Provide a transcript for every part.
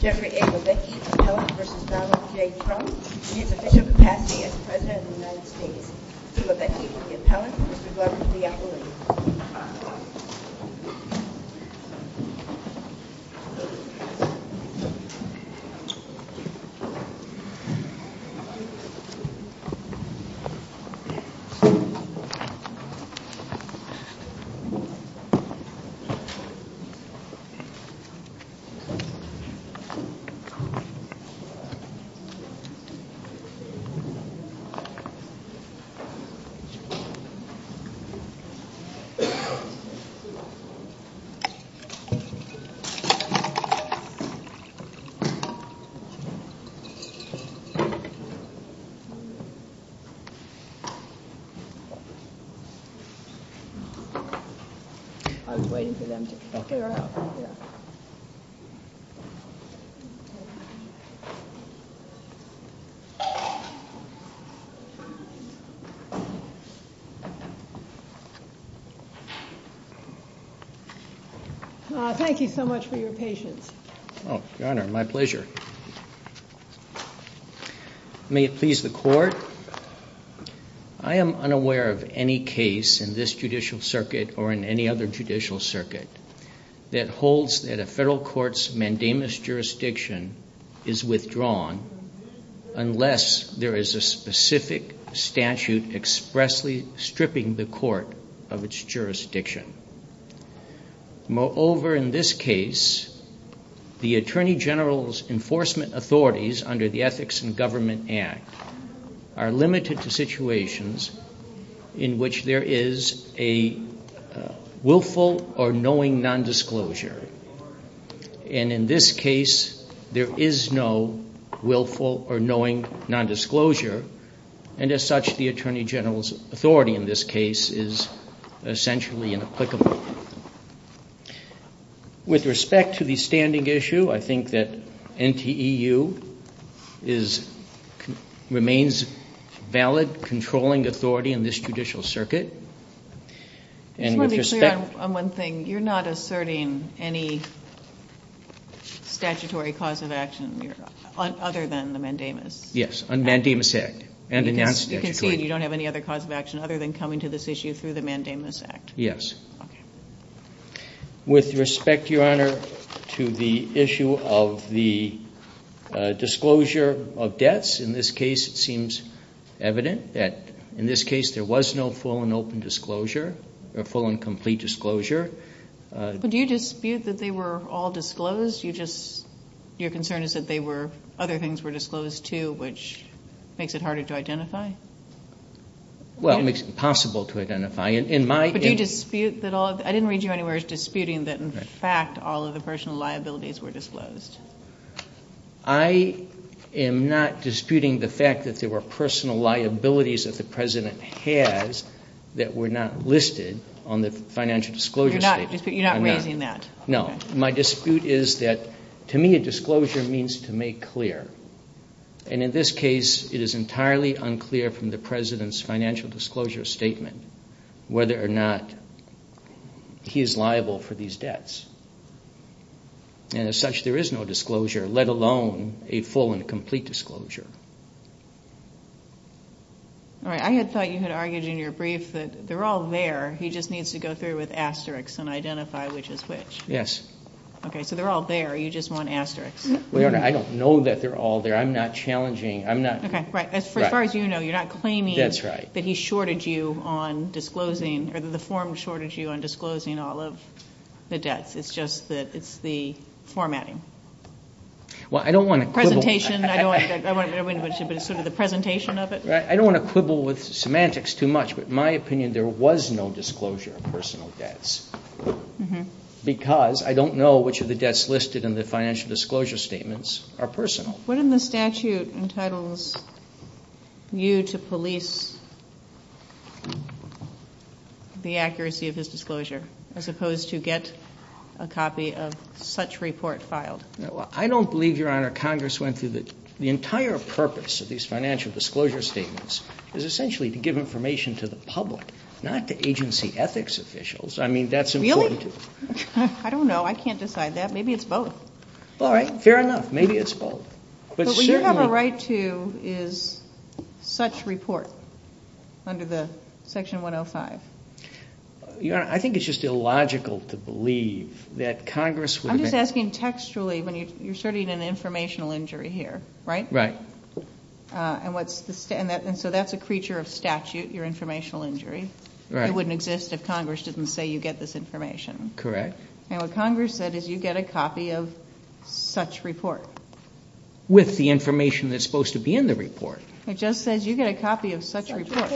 Jeffrey A. Lovitky, the Appellant v. Donald J. Trump in his official capacity as President of the United States Mr. Lovitky, the Appellant, Mr. Glover, the Appellant I was waiting for them to figure out Thank you so much for your patience. Your Honor, my pleasure. May it please the Court, I am unaware of any case in this judicial circuit or in any other judicial circuit that holds that a federal court's mandamus jurisdiction is withdrawn unless there is a specific statute expressly stripping the court of its jurisdiction. Moreover, in this case, the Attorney General's enforcement authorities under the Ethics in Government Act are limited to situations in which there is a willful or knowing nondisclosure. And in this case, there is no willful or knowing nondisclosure. And as such, the Attorney General's authority in this case is essentially inapplicable. With respect to the standing issue, I think that NTEU remains valid, controlling authority in this judicial circuit. I just want to be clear on one thing. You're not asserting any statutory cause of action other than the mandamus? Yes, on the Mandamus Act. You concede you don't have any other cause of action other than coming to this issue through the Mandamus Act? Yes. With respect, Your Honor, to the issue of the disclosure of deaths, in this case it seems evident that in this case there was no full and open disclosure or full and complete disclosure. But do you dispute that they were all disclosed? Your concern is that other things were disclosed too, Well, it makes it impossible to identify. I didn't read you anywhere as disputing that in fact all of the personal liabilities were disclosed. I am not disputing the fact that there were personal liabilities that the President has that were not listed on the financial disclosure statement. You're not raising that? No. My dispute is that to me a disclosure means to make clear. And in this case, it is entirely unclear from the President's financial disclosure statement whether or not he is liable for these debts. And as such, there is no disclosure, let alone a full and complete disclosure. All right. I had thought you had argued in your brief that they're all there. He just needs to go through with asterisks and identify which is which. Yes. Okay. So they're all there. You just want asterisks. Well, Your Honor, I don't know that they're all there. I'm not challenging. Okay. Right. As far as you know, you're not claiming that he shorted you on disclosing or that the form shorted you on disclosing all of the debts. It's just that it's the formatting. Well, I don't want to quibble. Presentation. I don't want to go into much of it. It's sort of the presentation of it. I don't want to quibble with semantics too much, but in my opinion there was no disclosure of personal debts because I don't know which of the debts listed in the financial disclosure statements are personal. What in the statute entitles you to police the accuracy of his disclosure as opposed to get a copy of such report filed? I don't believe, Your Honor, Congress went through the entire purpose of these financial disclosure statements is essentially to give information to the public, not to agency ethics officials. I mean, that's important. Really? I don't know. I can't decide that. Maybe it's both. All right. Fair enough. Maybe it's both. But when you have a right to is such report under the section 105? Your Honor, I think it's just illogical to believe that Congress would have been. I'm just asking textually when you're asserting an informational injury here, right? Right. And so that's a creature of statute, your informational injury. Right. It wouldn't exist if Congress didn't say you get this information. Correct. And what Congress said is you get a copy of such report. With the information that's supposed to be in the report. It just says you get a copy of such report.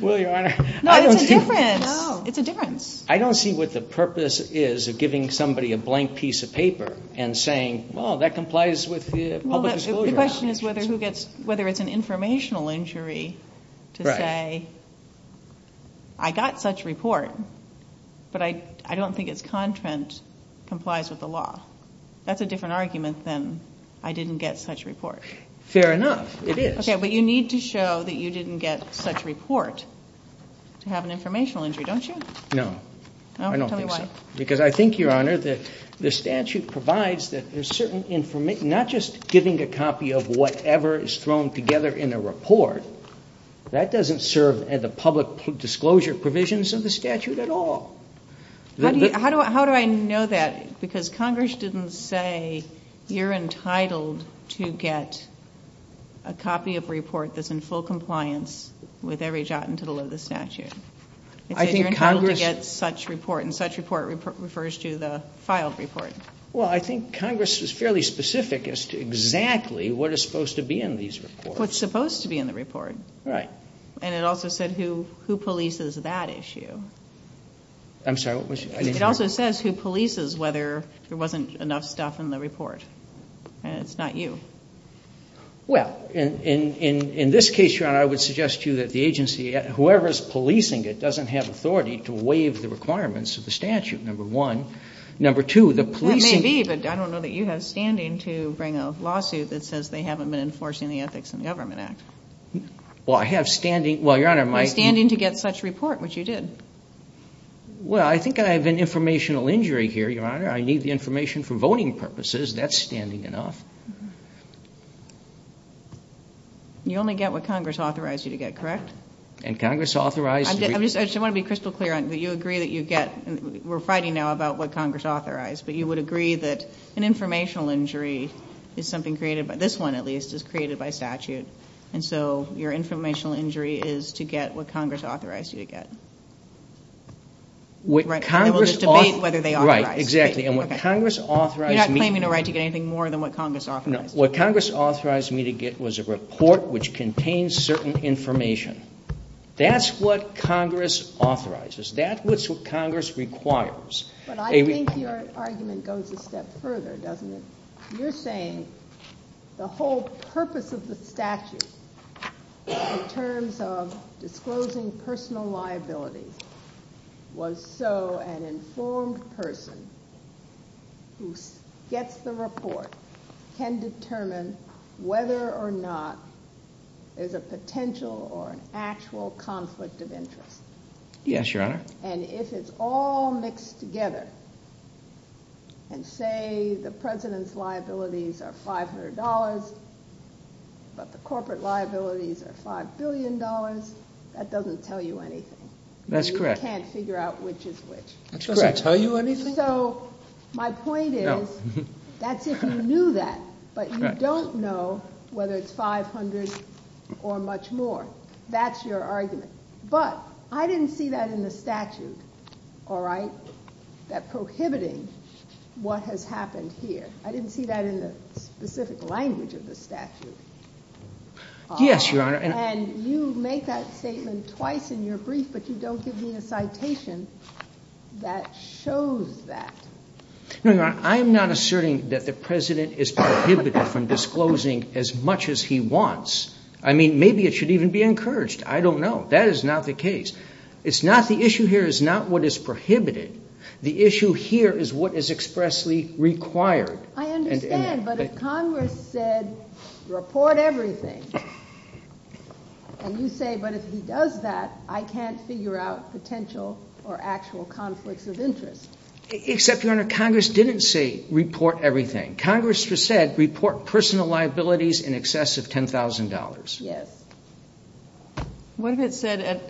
Well, Your Honor. No, it's a difference. It's a difference. I don't see what the purpose is of giving somebody a blank piece of paper and saying, well, that complies with the public disclosure act. The question is whether it's an informational injury to say I got such report but I don't think its content complies with the law. That's a different argument than I didn't get such report. Fair enough. It is. Okay. But you need to show that you didn't get such report to have an informational injury, don't you? No. I don't think so. Tell me why. Because I think, Your Honor, that the statute provides that there's certain information. Not just giving a copy of whatever is thrown together in a report. That doesn't serve the public disclosure provisions of the statute at all. How do I know that? Because Congress didn't say you're entitled to get a copy of report that's in full compliance with every jot and tittle of the statute. It said you're entitled to get such report, and such report refers to the filed report. Well, I think Congress is fairly specific as to exactly what is supposed to be in these reports. That's what's supposed to be in the report. Right. And it also said who polices that issue. I'm sorry. I didn't hear. It also says who polices whether there wasn't enough stuff in the report. And it's not you. Well, in this case, Your Honor, I would suggest to you that the agency, whoever is policing it doesn't have authority to waive the requirements of the statute, number one. Number two, the policing... That may be, but I don't know that you have standing to bring a lawsuit that says they haven't been enforcing the Ethics in Government Act. Well, I have standing. Well, Your Honor, my... You have standing to get such report, which you did. Well, I think I have an informational injury here, Your Honor. I need the information for voting purposes. That's standing enough. You only get what Congress authorized you to get, correct? And Congress authorized... I just want to be crystal clear that you agree that you get... We're fighting now about what Congress authorized, but you would agree that an informational injury is something created by... This one, at least, is created by statute. And so your informational injury is to get what Congress authorized you to get. Right. And we'll just debate whether they authorized. Right, exactly. And what Congress authorized me... You're not claiming a right to get anything more than what Congress authorized. No. What Congress authorized me to get was a report which contains certain information. That's what Congress authorizes. That's what Congress requires. But I think your argument goes a step further, doesn't it? You're saying the whole purpose of the statute in terms of disclosing personal liabilities was so an informed person who gets the report can determine whether or not there's a potential or an actual conflict of interest. Yes, Your Honor. And if it's all mixed together and say the President's liabilities are $500, but the corporate liabilities are $5 billion, that doesn't tell you anything. That's correct. You can't figure out which is which. That's correct. It doesn't tell you anything. So my point is that's if you knew that, but you don't know whether it's $500 or much more. That's your argument. But I didn't see that in the statute, all right, that prohibiting what has happened here. I didn't see that in the specific language of the statute. Yes, Your Honor. And you make that statement twice in your brief, but you don't give me a citation that shows that. No, Your Honor. I am not asserting that the President is prohibited from disclosing as much as he wants. I mean, maybe it should even be encouraged. I don't know. That is not the case. It's not the issue here is not what is prohibited. The issue here is what is expressly required. I understand. But if Congress said report everything, and you say, but if he does that, I can't figure out potential or actual conflicts of interest. Except, Your Honor, Congress didn't say report everything. Congress said report personal liabilities in excess of $10,000. Yes. What if it said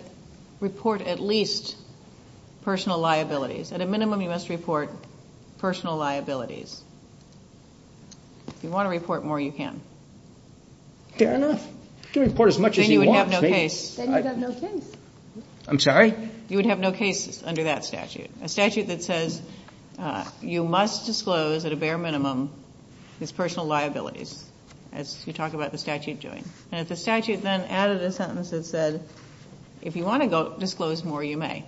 report at least personal liabilities? At a minimum, you must report personal liabilities. If you want to report more, you can. Fair enough. You can report as much as you want. Then you would have no case. Then you would have no case. I'm sorry? You would have no case under that statute, a statute that says you must disclose at a bare minimum his personal liabilities, as you talk about the statute doing. And if the statute then added a sentence that said, if you want to disclose more, you may.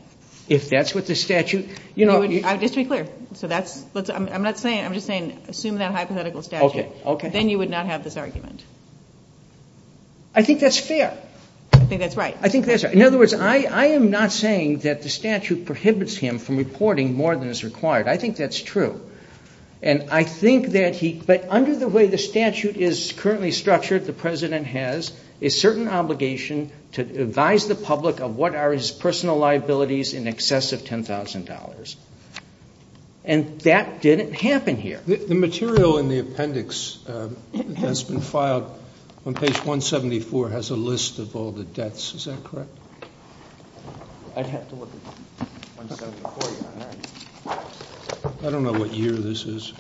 If that's what the statute? Just to be clear. I'm just saying assume that hypothetical statute. Then you would not have this argument. I think that's fair. I think that's right. I think that's right. In other words, I am not saying that the statute prohibits him from reporting more than is required. I think that's true. And I think that he, but under the way the statute is currently structured, the President has a certain obligation to advise the public of what are his personal liabilities in excess of $10,000. And that didn't happen here. The material in the appendix that's been filed on page 174 has a list of all the debts. Is that correct? I'd have to look at 174. I don't know what year this is.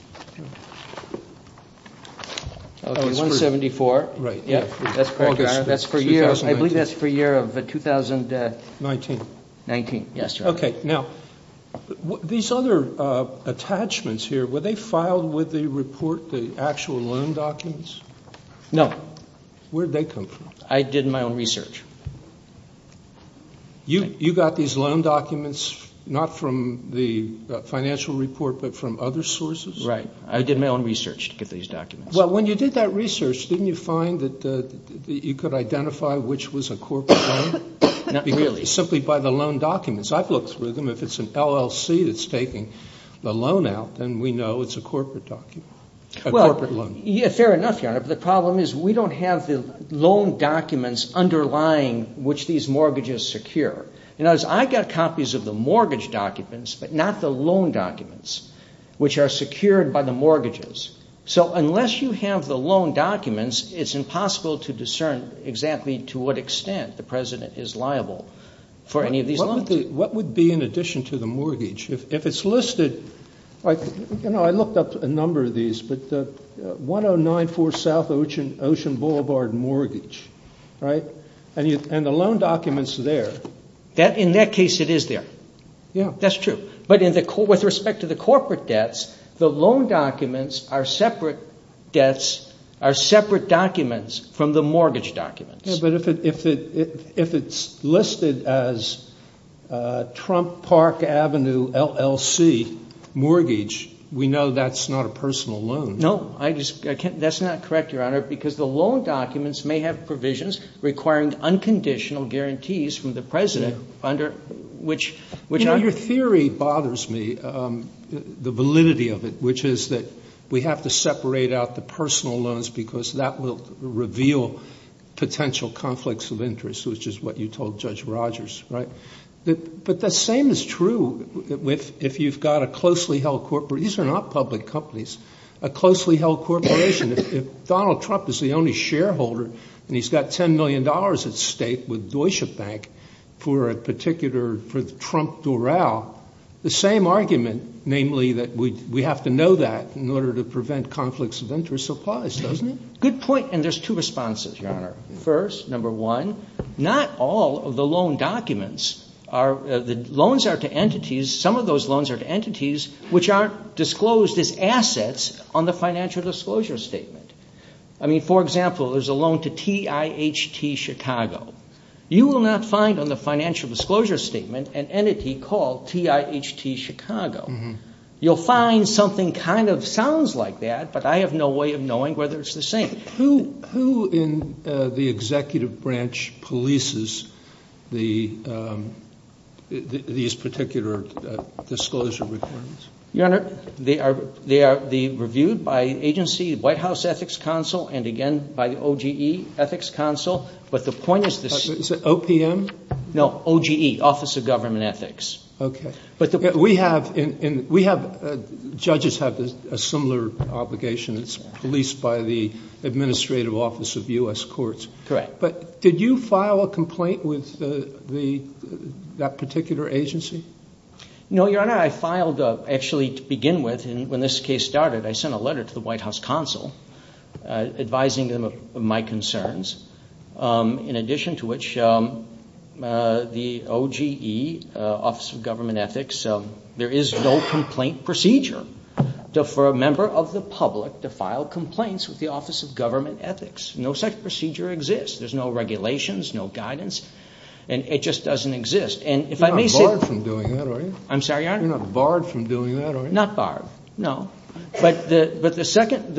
174. Right. That's for a year. I believe that's for a year of 2019. Okay. Now, these other attachments here, were they filed with the report, the actual loan documents? No. Where did they come from? I did my own research. You got these loan documents not from the financial report but from other sources? Right. I did my own research to get these documents. Well, when you did that research, didn't you find that you could identify which was a corporate loan? Not really. Simply by the loan documents. I've looked through them. If it's an LLC that's taking the loan out, then we know it's a corporate document, a corporate loan. Fair enough, Your Honor, but the problem is we don't have the loan documents underlying which these mortgages secure. In other words, I got copies of the mortgage documents but not the loan documents, which are secured by the mortgages. So unless you have the loan documents, it's impossible to discern exactly to what extent the President is liable for any of these loans. What would be in addition to the mortgage? If it's listed, you know, I looked up a number of these, but 1094 South Ocean Boulevard mortgage, right, and the loan documents are there. In that case, it is there. That's true. But with respect to the corporate debts, the loan documents are separate debts, are separate documents from the mortgage documents. Yeah, but if it's listed as Trump Park Avenue LLC mortgage, we know that's not a personal loan. No. That's not correct, Your Honor, because the loan documents may have provisions requiring unconditional guarantees from the President under which— The theory bothers me, the validity of it, which is that we have to separate out the personal loans because that will reveal potential conflicts of interest, which is what you told Judge Rogers, right? But the same is true if you've got a closely held—these are not public companies—a closely held corporation. If Donald Trump is the only shareholder and he's got $10 million at stake with Deutsche Bank for a particular—for Trump Doral, the same argument, namely that we have to know that in order to prevent conflicts of interest applies, doesn't it? Good point, and there's two responses, Your Honor. First, number one, not all of the loan documents are—the loans are to entities. Some of those loans are to entities which aren't disclosed as assets on the financial disclosure statement. I mean, for example, there's a loan to TIHT Chicago. You will not find on the financial disclosure statement an entity called TIHT Chicago. You'll find something kind of sounds like that, but I have no way of knowing whether it's the same. Who in the executive branch polices these particular disclosure requirements? Your Honor, they are reviewed by agency, White House Ethics Council, and again by the OGE Ethics Council, but the point is this— Is it OPM? No, OGE, Office of Government Ethics. Okay. We have—judges have a similar obligation. It's policed by the Administrative Office of U.S. Courts. Correct. But did you file a complaint with that particular agency? No, Your Honor. Actually, to begin with, when this case started, I sent a letter to the White House Council advising them of my concerns, in addition to which the OGE, Office of Government Ethics, there is no complaint procedure for a member of the public to file complaints with the Office of Government Ethics. No such procedure exists. There's no regulations, no guidance, and it just doesn't exist. You're not barred from doing that, are you? I'm sorry, Your Honor? You're not barred from doing that, are you? Not barred, no. But the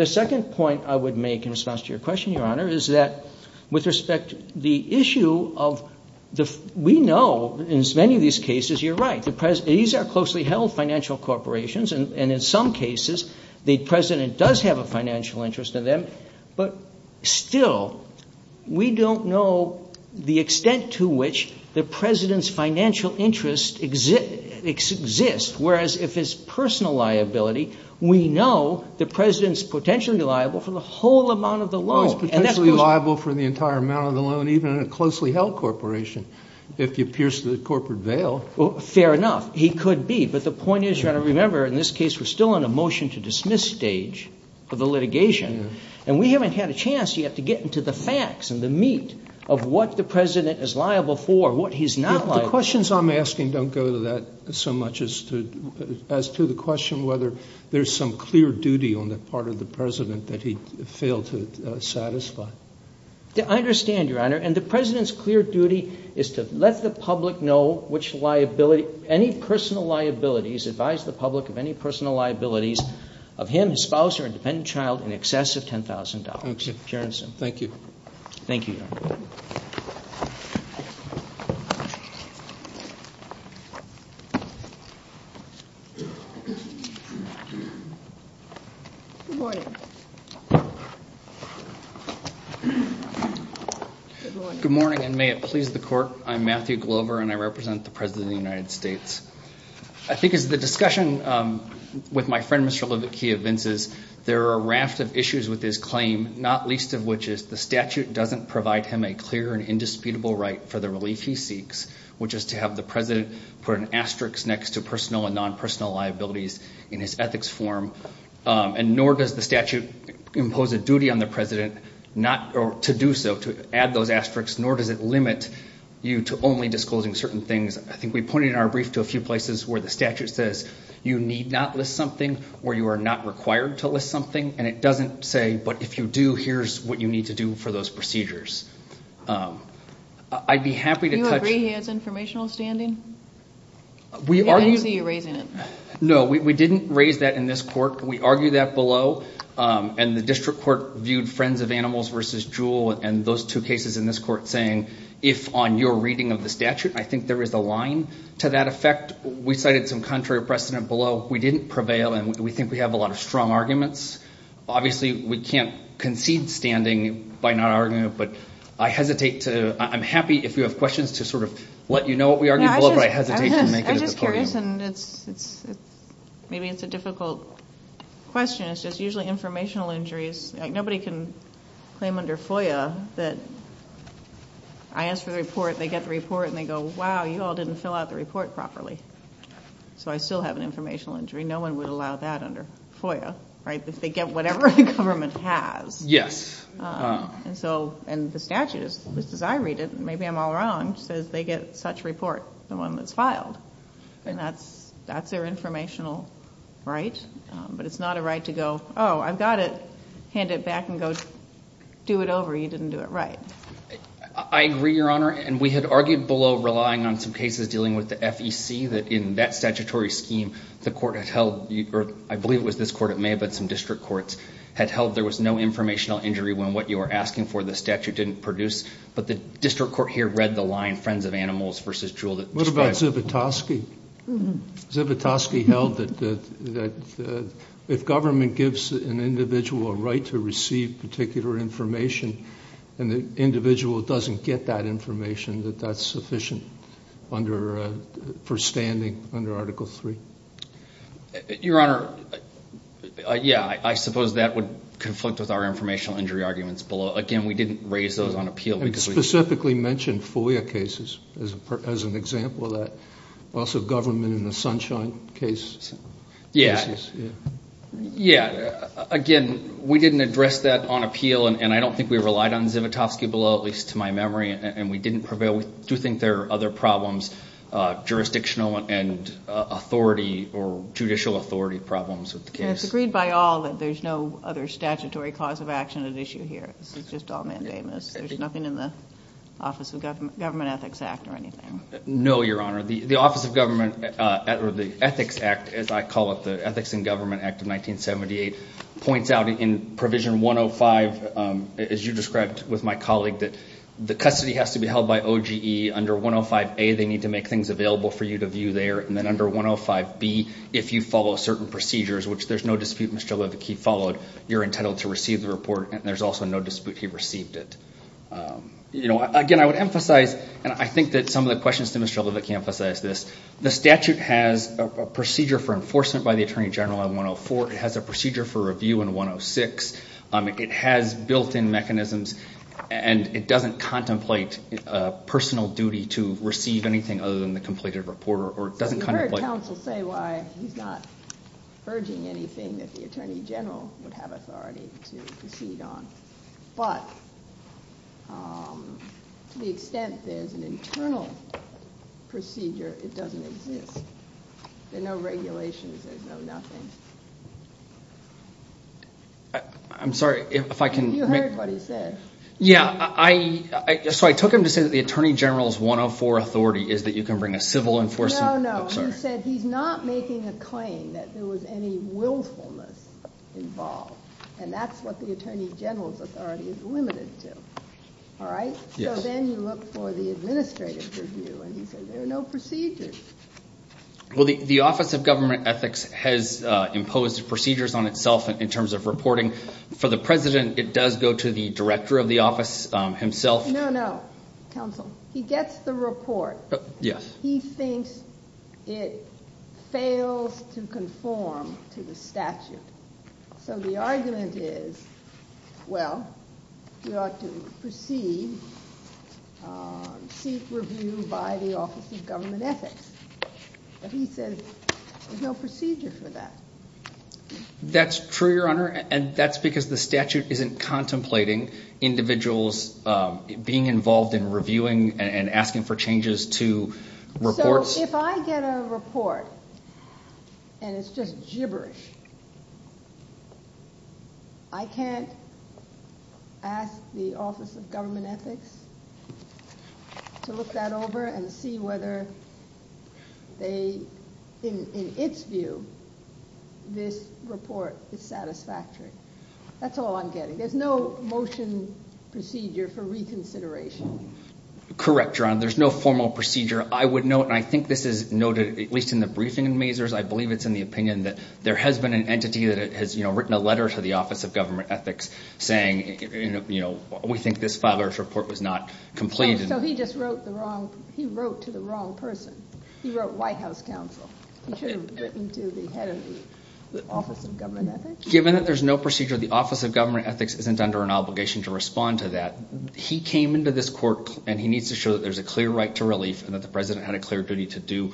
second point I would make in response to your question, Your Honor, is that with respect to the issue of— we know in many of these cases, you're right, these are closely held financial corporations, and in some cases the President does have a financial interest in them, but still we don't know the extent to which the President's financial interest exists, whereas if it's personal liability, we know the President's potentially liable for the whole amount of the loan. He's potentially liable for the entire amount of the loan, even in a closely held corporation, if he appears to the corporate veil. Fair enough. He could be. But the point is, Your Honor, remember in this case we're still in a motion-to-dismiss stage for the litigation, and we haven't had a chance yet to get into the facts and the meat of what the President is liable for, what he's not liable for. The questions I'm asking don't go to that so much as to the question whether there's some clear duty on the part of the President that he failed to satisfy. I understand, Your Honor. And the President's clear duty is to let the public know which liability, any personal liabilities, advise the public of any personal liabilities of him, his spouse, or independent child in excess of $10,000. Thank you. Thank you. Thank you, Your Honor. Good morning. Good morning, and may it please the Court. I'm Matthew Glover, and I represent the President of the United States. I think as the discussion with my friend, Mr. Levicky, evinces, there are a raft of issues with his claim, not least of which is the statute doesn't provide him a clear and indisputable right for the relief he seeks, which is to have the President put an asterisk next to personal and non-personal liabilities in his ethics form, and nor does the statute impose a duty on the President to do so, to add those asterisks, nor does it limit you to only disclosing certain things. I think we pointed in our brief to a few places where the statute says you need not list something or you are not required to list something, and it doesn't say, but if you do, here's what you need to do for those procedures. I'd be happy to touch. Do you agree he has informational standing? I don't see you raising it. No, we didn't raise that in this court. We argued that below, and the district court viewed Friends of Animals v. Jewel and those two cases in this court saying if on your reading of the statute I think there is a line to that effect. We cited some contrary precedent below. We didn't prevail, and we think we have a lot of strong arguments. Obviously we can't concede standing by not arguing it, but I'm happy if you have questions to sort of let you know what we argued below, but I hesitate to make it at the podium. I'm just curious, and maybe it's a difficult question. It's just usually informational injuries. Nobody can claim under FOIA that I ask for the report, they get the report, and they go, wow, you all didn't fill out the report properly. So I still have an informational injury. No one would allow that under FOIA, right, if they get whatever the government has. Yes. And the statute, at least as I read it, and maybe I'm all wrong, says they get such report, the one that's filed, and that's their informational right, but it's not a right to go, oh, I've got it, hand it back and go do it over, you didn't do it right. I agree, Your Honor, and we had argued below relying on some cases dealing with the FEC that in that statutory scheme, the court had held, or I believe it was this court, it may have been some district courts, had held there was no informational injury when what you are asking for the statute didn't produce, but the district court here read the line, friends of animals versus jewel. What about Zivotofsky? Zivotofsky held that if government gives an individual a right to receive particular information and the individual doesn't get that information, that that's sufficient for standing under Article III. Your Honor, yeah, I suppose that would conflict with our informational injury arguments below. Again, we didn't raise those on appeal because we... And specifically mentioned FOIA cases as an example of that. Also government in the Sunshine case. Yeah, again, we didn't address that on appeal, and I don't think we relied on Zivotofsky below, at least to my memory, and we didn't prevail. We do think there are other problems, jurisdictional and authority or judicial authority problems with the case. It's agreed by all that there's no other statutory cause of action at issue here. This is just all mandamus. There's nothing in the Office of Government Ethics Act or anything. No, Your Honor. The Office of Government or the Ethics Act, as I call it, the Ethics in Government Act of 1978, points out in Provision 105, as you described with my colleague, that the custody has to be held by OGE under 105A. They need to make things available for you to view there. And then under 105B, if you follow certain procedures, which there's no dispute Mr. Levick, he followed, you're entitled to receive the report, and there's also no dispute he received it. Again, I would emphasize, and I think that some of the questions to Mr. Levick emphasize this, the statute has a procedure for enforcement by the Attorney General in 104. It has a procedure for review in 106. It has built-in mechanisms, and it doesn't contemplate personal duty to receive anything other than the completed report or it doesn't contemplate. You heard counsel say why he's not urging anything that the Attorney General would have authority to proceed on. But to the extent there's an internal procedure, it doesn't exist. There are no regulations. There's no nothing. I'm sorry. You heard what he said. Yeah. So I took him to say that the Attorney General's 104 authority is that you can bring a civil enforcement. No, no. He said he's not making a claim that there was any willfulness involved, and that's what the Attorney General's authority is limited to. All right? Yes. So then you look for the administrative review, and he said there are no procedures. Well, the Office of Government Ethics has imposed procedures on itself in terms of reporting. For the president, it does go to the director of the office himself. No, no, counsel. He gets the report. Yes. He thinks it fails to conform to the statute. So the argument is, well, you ought to proceed, seek review by the Office of Government Ethics. But he says there's no procedure for that. That's true, Your Honor, and that's because the statute isn't contemplating individuals being involved in reviewing and asking for changes to reports. So if I get a report and it's just gibberish, I can't ask the Office of Government Ethics to look that over and see whether they, in its view, this report is satisfactory. That's all I'm getting. There's no motion procedure for reconsideration. Correct, Your Honor. There's no formal procedure. I would note, and I think this is noted at least in the briefing in Mazars, I believe it's in the opinion that there has been an entity that has written a letter to the Office of Government Ethics saying, you know, we think this father's report was not complete. So he just wrote to the wrong person. He wrote White House counsel. He should have written to the head of the Office of Government Ethics. Given that there's no procedure, the Office of Government Ethics isn't under an obligation to respond to that. He came into this court and he needs to show that there's a clear right to relief and that the President had a clear duty to do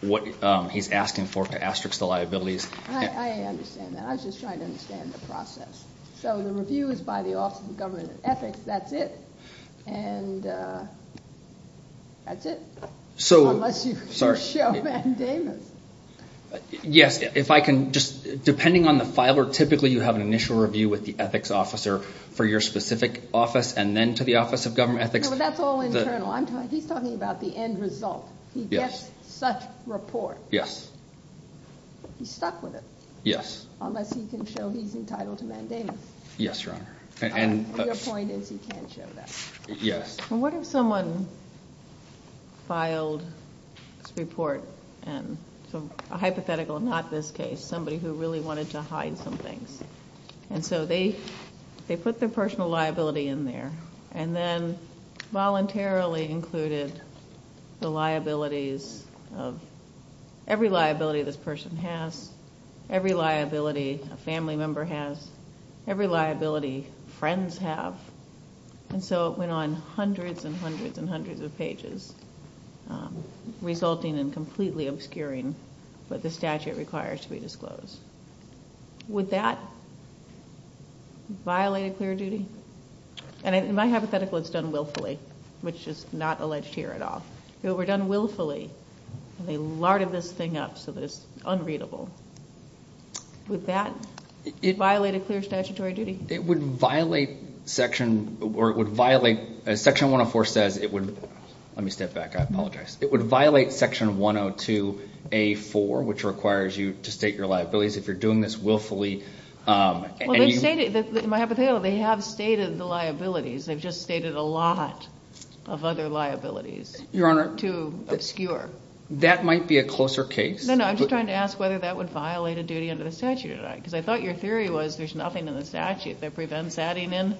what he's asking for to asterisk the liabilities. I understand that. I was just trying to understand the process. So the review is by the Office of Government Ethics, that's it? And that's it? Unless you show mandamus. Yes, if I can just, depending on the filer, typically you have an initial review with the ethics officer for your specific office and then to the Office of Government Ethics. No, but that's all internal. He's talking about the end result. He gets such report. Yes. He's stuck with it. Yes. Unless he can show he's entitled to mandamus. Yes, Your Honor. Your point is he can't show that. Yes. Well, what if someone filed this report, a hypothetical, not this case, somebody who really wanted to hide some things. And so they put their personal liability in there and then voluntarily included the liabilities of every liability this person has, every liability a family member has, every liability friends have. And so it went on hundreds and hundreds and hundreds of pages, resulting in completely obscuring what the statute requires to be disclosed. Would that violate a clear duty? And in my hypothetical, it's done willfully, which is not alleged here at all. If it were done willfully and they larded this thing up so that it's unreadable, would that violate a clear statutory duty? It would violate Section 104 says it would. Let me step back. I apologize. It would violate Section 102A4, which requires you to state your liabilities. If you're doing this willfully and you... In my hypothetical, they have stated the liabilities. They've just stated a lot of other liabilities. Your Honor... Too obscure. That might be a closer case. No, no. I'm just trying to ask whether that would violate a duty under the statute or not because I thought your theory was there's nothing in the statute that prevents adding in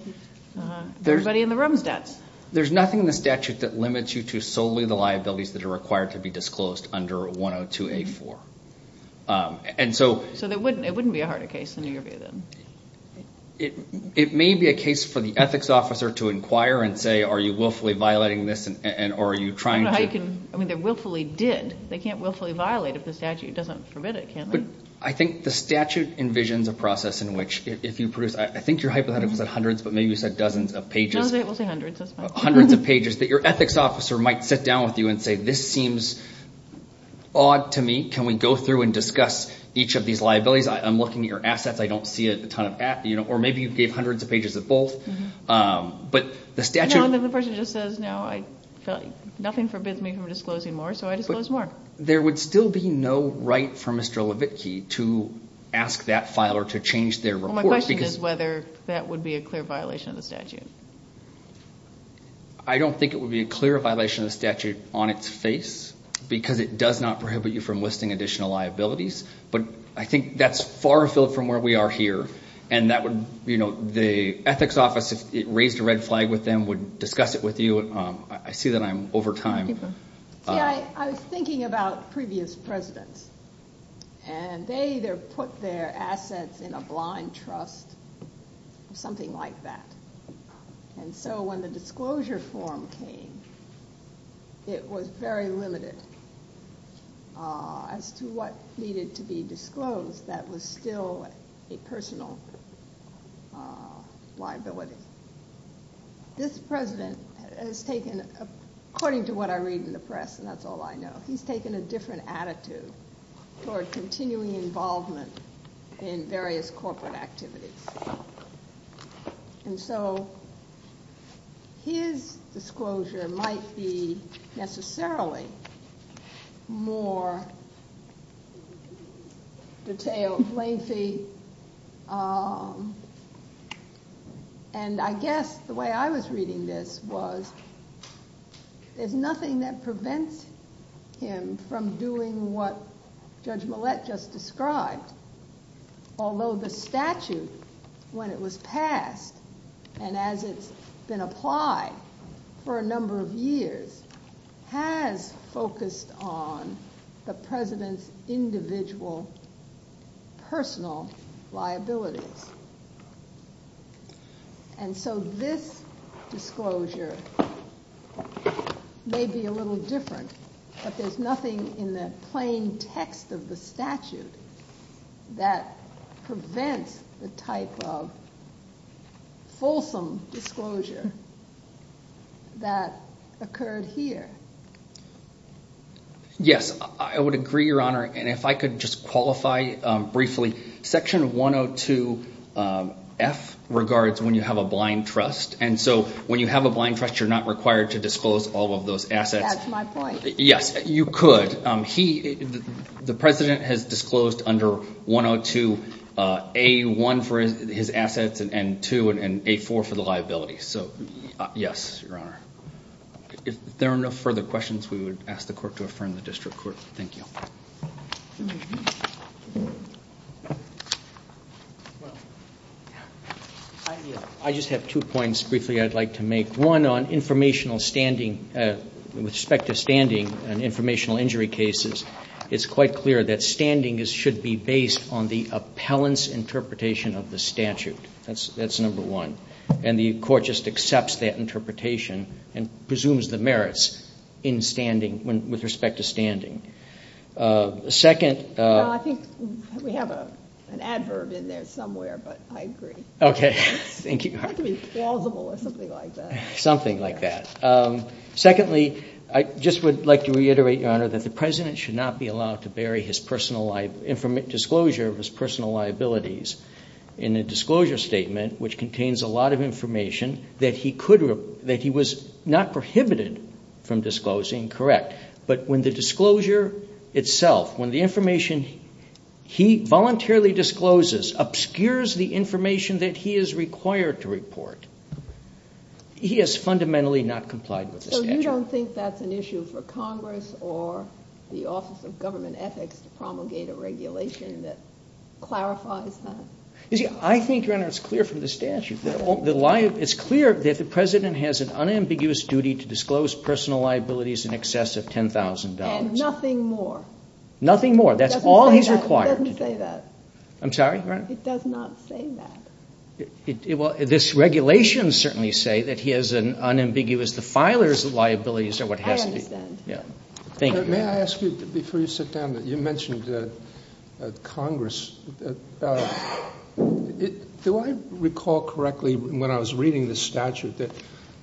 everybody in the room's debts. There's nothing in the statute that limits you to solely the liabilities that are required to be disclosed under 102A4. And so... So it wouldn't be a harder case in your view, then? It may be a case for the ethics officer to inquire and say, are you willfully violating this and are you trying to... I mean, they willfully did. They can't willfully violate if the statute doesn't forbid it, can they? I think the statute envisions a process in which if you produce... I think your hypothetical said hundreds, but maybe you said dozens of pages. We'll say hundreds, that's fine. Hundreds of pages that your ethics officer might sit down with you and say, this seems odd to me. Can we go through and discuss each of these liabilities? I'm looking at your assets. I don't see a ton of... Or maybe you gave hundreds of pages of both. But the statute... No, the person just says, no, nothing forbids me from disclosing more, so I disclose more. There would still be no right for Mr. Levitky to ask that filer to change their report. Well, my question is whether that would be a clear violation of the statute. I don't think it would be a clear violation of the statute on its face, because it does not prohibit you from listing additional liabilities. But I think that's far afield from where we are here. And that would, you know, the ethics office, if it raised a red flag with them, would discuss it with you. I see that I'm over time. I was thinking about previous presidents. And they either put their assets in a blind trust or something like that. And so when the disclosure form came, it was very limited as to what needed to be disclosed that was still a personal liability. This president has taken, according to what I read in the press, and that's all I know, he's taken a different attitude toward continuing involvement in various corporate activities. And so his disclosure might be necessarily more detailed, lengthy. And I guess the way I was reading this was, there's nothing that prevents him from doing what Judge Millett just described. Although the statute, when it was passed, and as it's been applied for a number of years, has focused on the president's individual personal liabilities. And so this disclosure may be a little different, but there's nothing in the plain text of the statute that prevents the type of fulsome disclosure that occurred here. Yes, I would agree, Your Honor. And if I could just qualify briefly. Section 102F regards when you have a blind trust. And so when you have a blind trust, you're not required to disclose all of those assets. That's my point. Yes, you could. The president has disclosed under 102A1 for his assets and 2 and A4 for the liabilities. So, yes, Your Honor. If there are no further questions, we would ask the court to affirm the district court. Thank you. I just have two points briefly I'd like to make. One, on informational standing, with respect to standing and informational injury cases, it's quite clear that standing should be based on the appellant's interpretation of the statute. That's number one. And the court just accepts that interpretation and presumes the merits in standing, with respect to standing. Second. I think we have an adverb in there somewhere, but I agree. Okay. Thank you. It has to be plausible or something like that. Something like that. Secondly, I just would like to reiterate, Your Honor, that the president should not be allowed to bury his personal disclosure of his personal liabilities in a disclosure statement which contains a lot of information that he was not prohibited from disclosing. Correct. But when the disclosure itself, when the information he voluntarily discloses, obscures the information that he is required to report, he has fundamentally not complied with the statute. So you don't think that's an issue for Congress or the Office of Government Ethics to promulgate a regulation that clarifies that? You see, I think, Your Honor, it's clear from the statute. It's clear that the president has an unambiguous duty to disclose personal liabilities in excess of $10,000. And nothing more. Nothing more. That's all he's required. It doesn't say that. I'm sorry, Your Honor? It does not say that. Well, this regulation certainly says that he has an unambiguous, the filer's liabilities are what has to be. I understand. Thank you. May I ask you, before you sit down, you mentioned Congress. Do I recall correctly when I was reading the statute that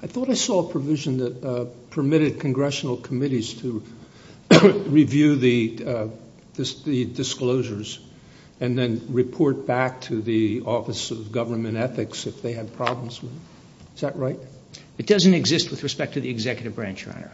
I thought I saw a provision that permitted congressional committees to review the disclosures and then report back to the Office of Government Ethics if they had problems with it? Is that right? It doesn't exist with respect to the executive branch, Your Honor.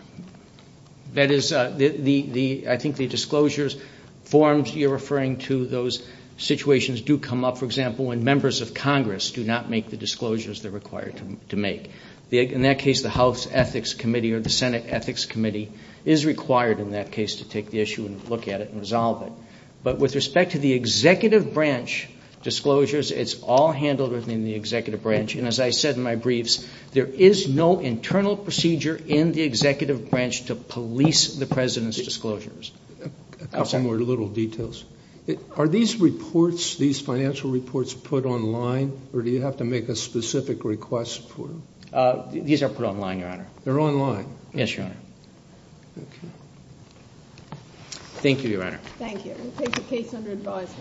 That is, I think the disclosures forms you're referring to, those situations do come up, for example, when members of Congress do not make the disclosures they're required to make. In that case, the House Ethics Committee or the Senate Ethics Committee is required in that case to take the issue and look at it and resolve it. But with respect to the executive branch disclosures, it's all handled within the executive branch. And as I said in my briefs, there is no internal procedure in the executive branch to police the President's disclosures. A couple more little details. Are these reports, these financial reports, put online or do you have to make a specific request for them? These are put online, Your Honor. They're online? Yes, Your Honor. Okay. Thank you, Your Honor. Thank you. We'll take the case under advisory. Thank you.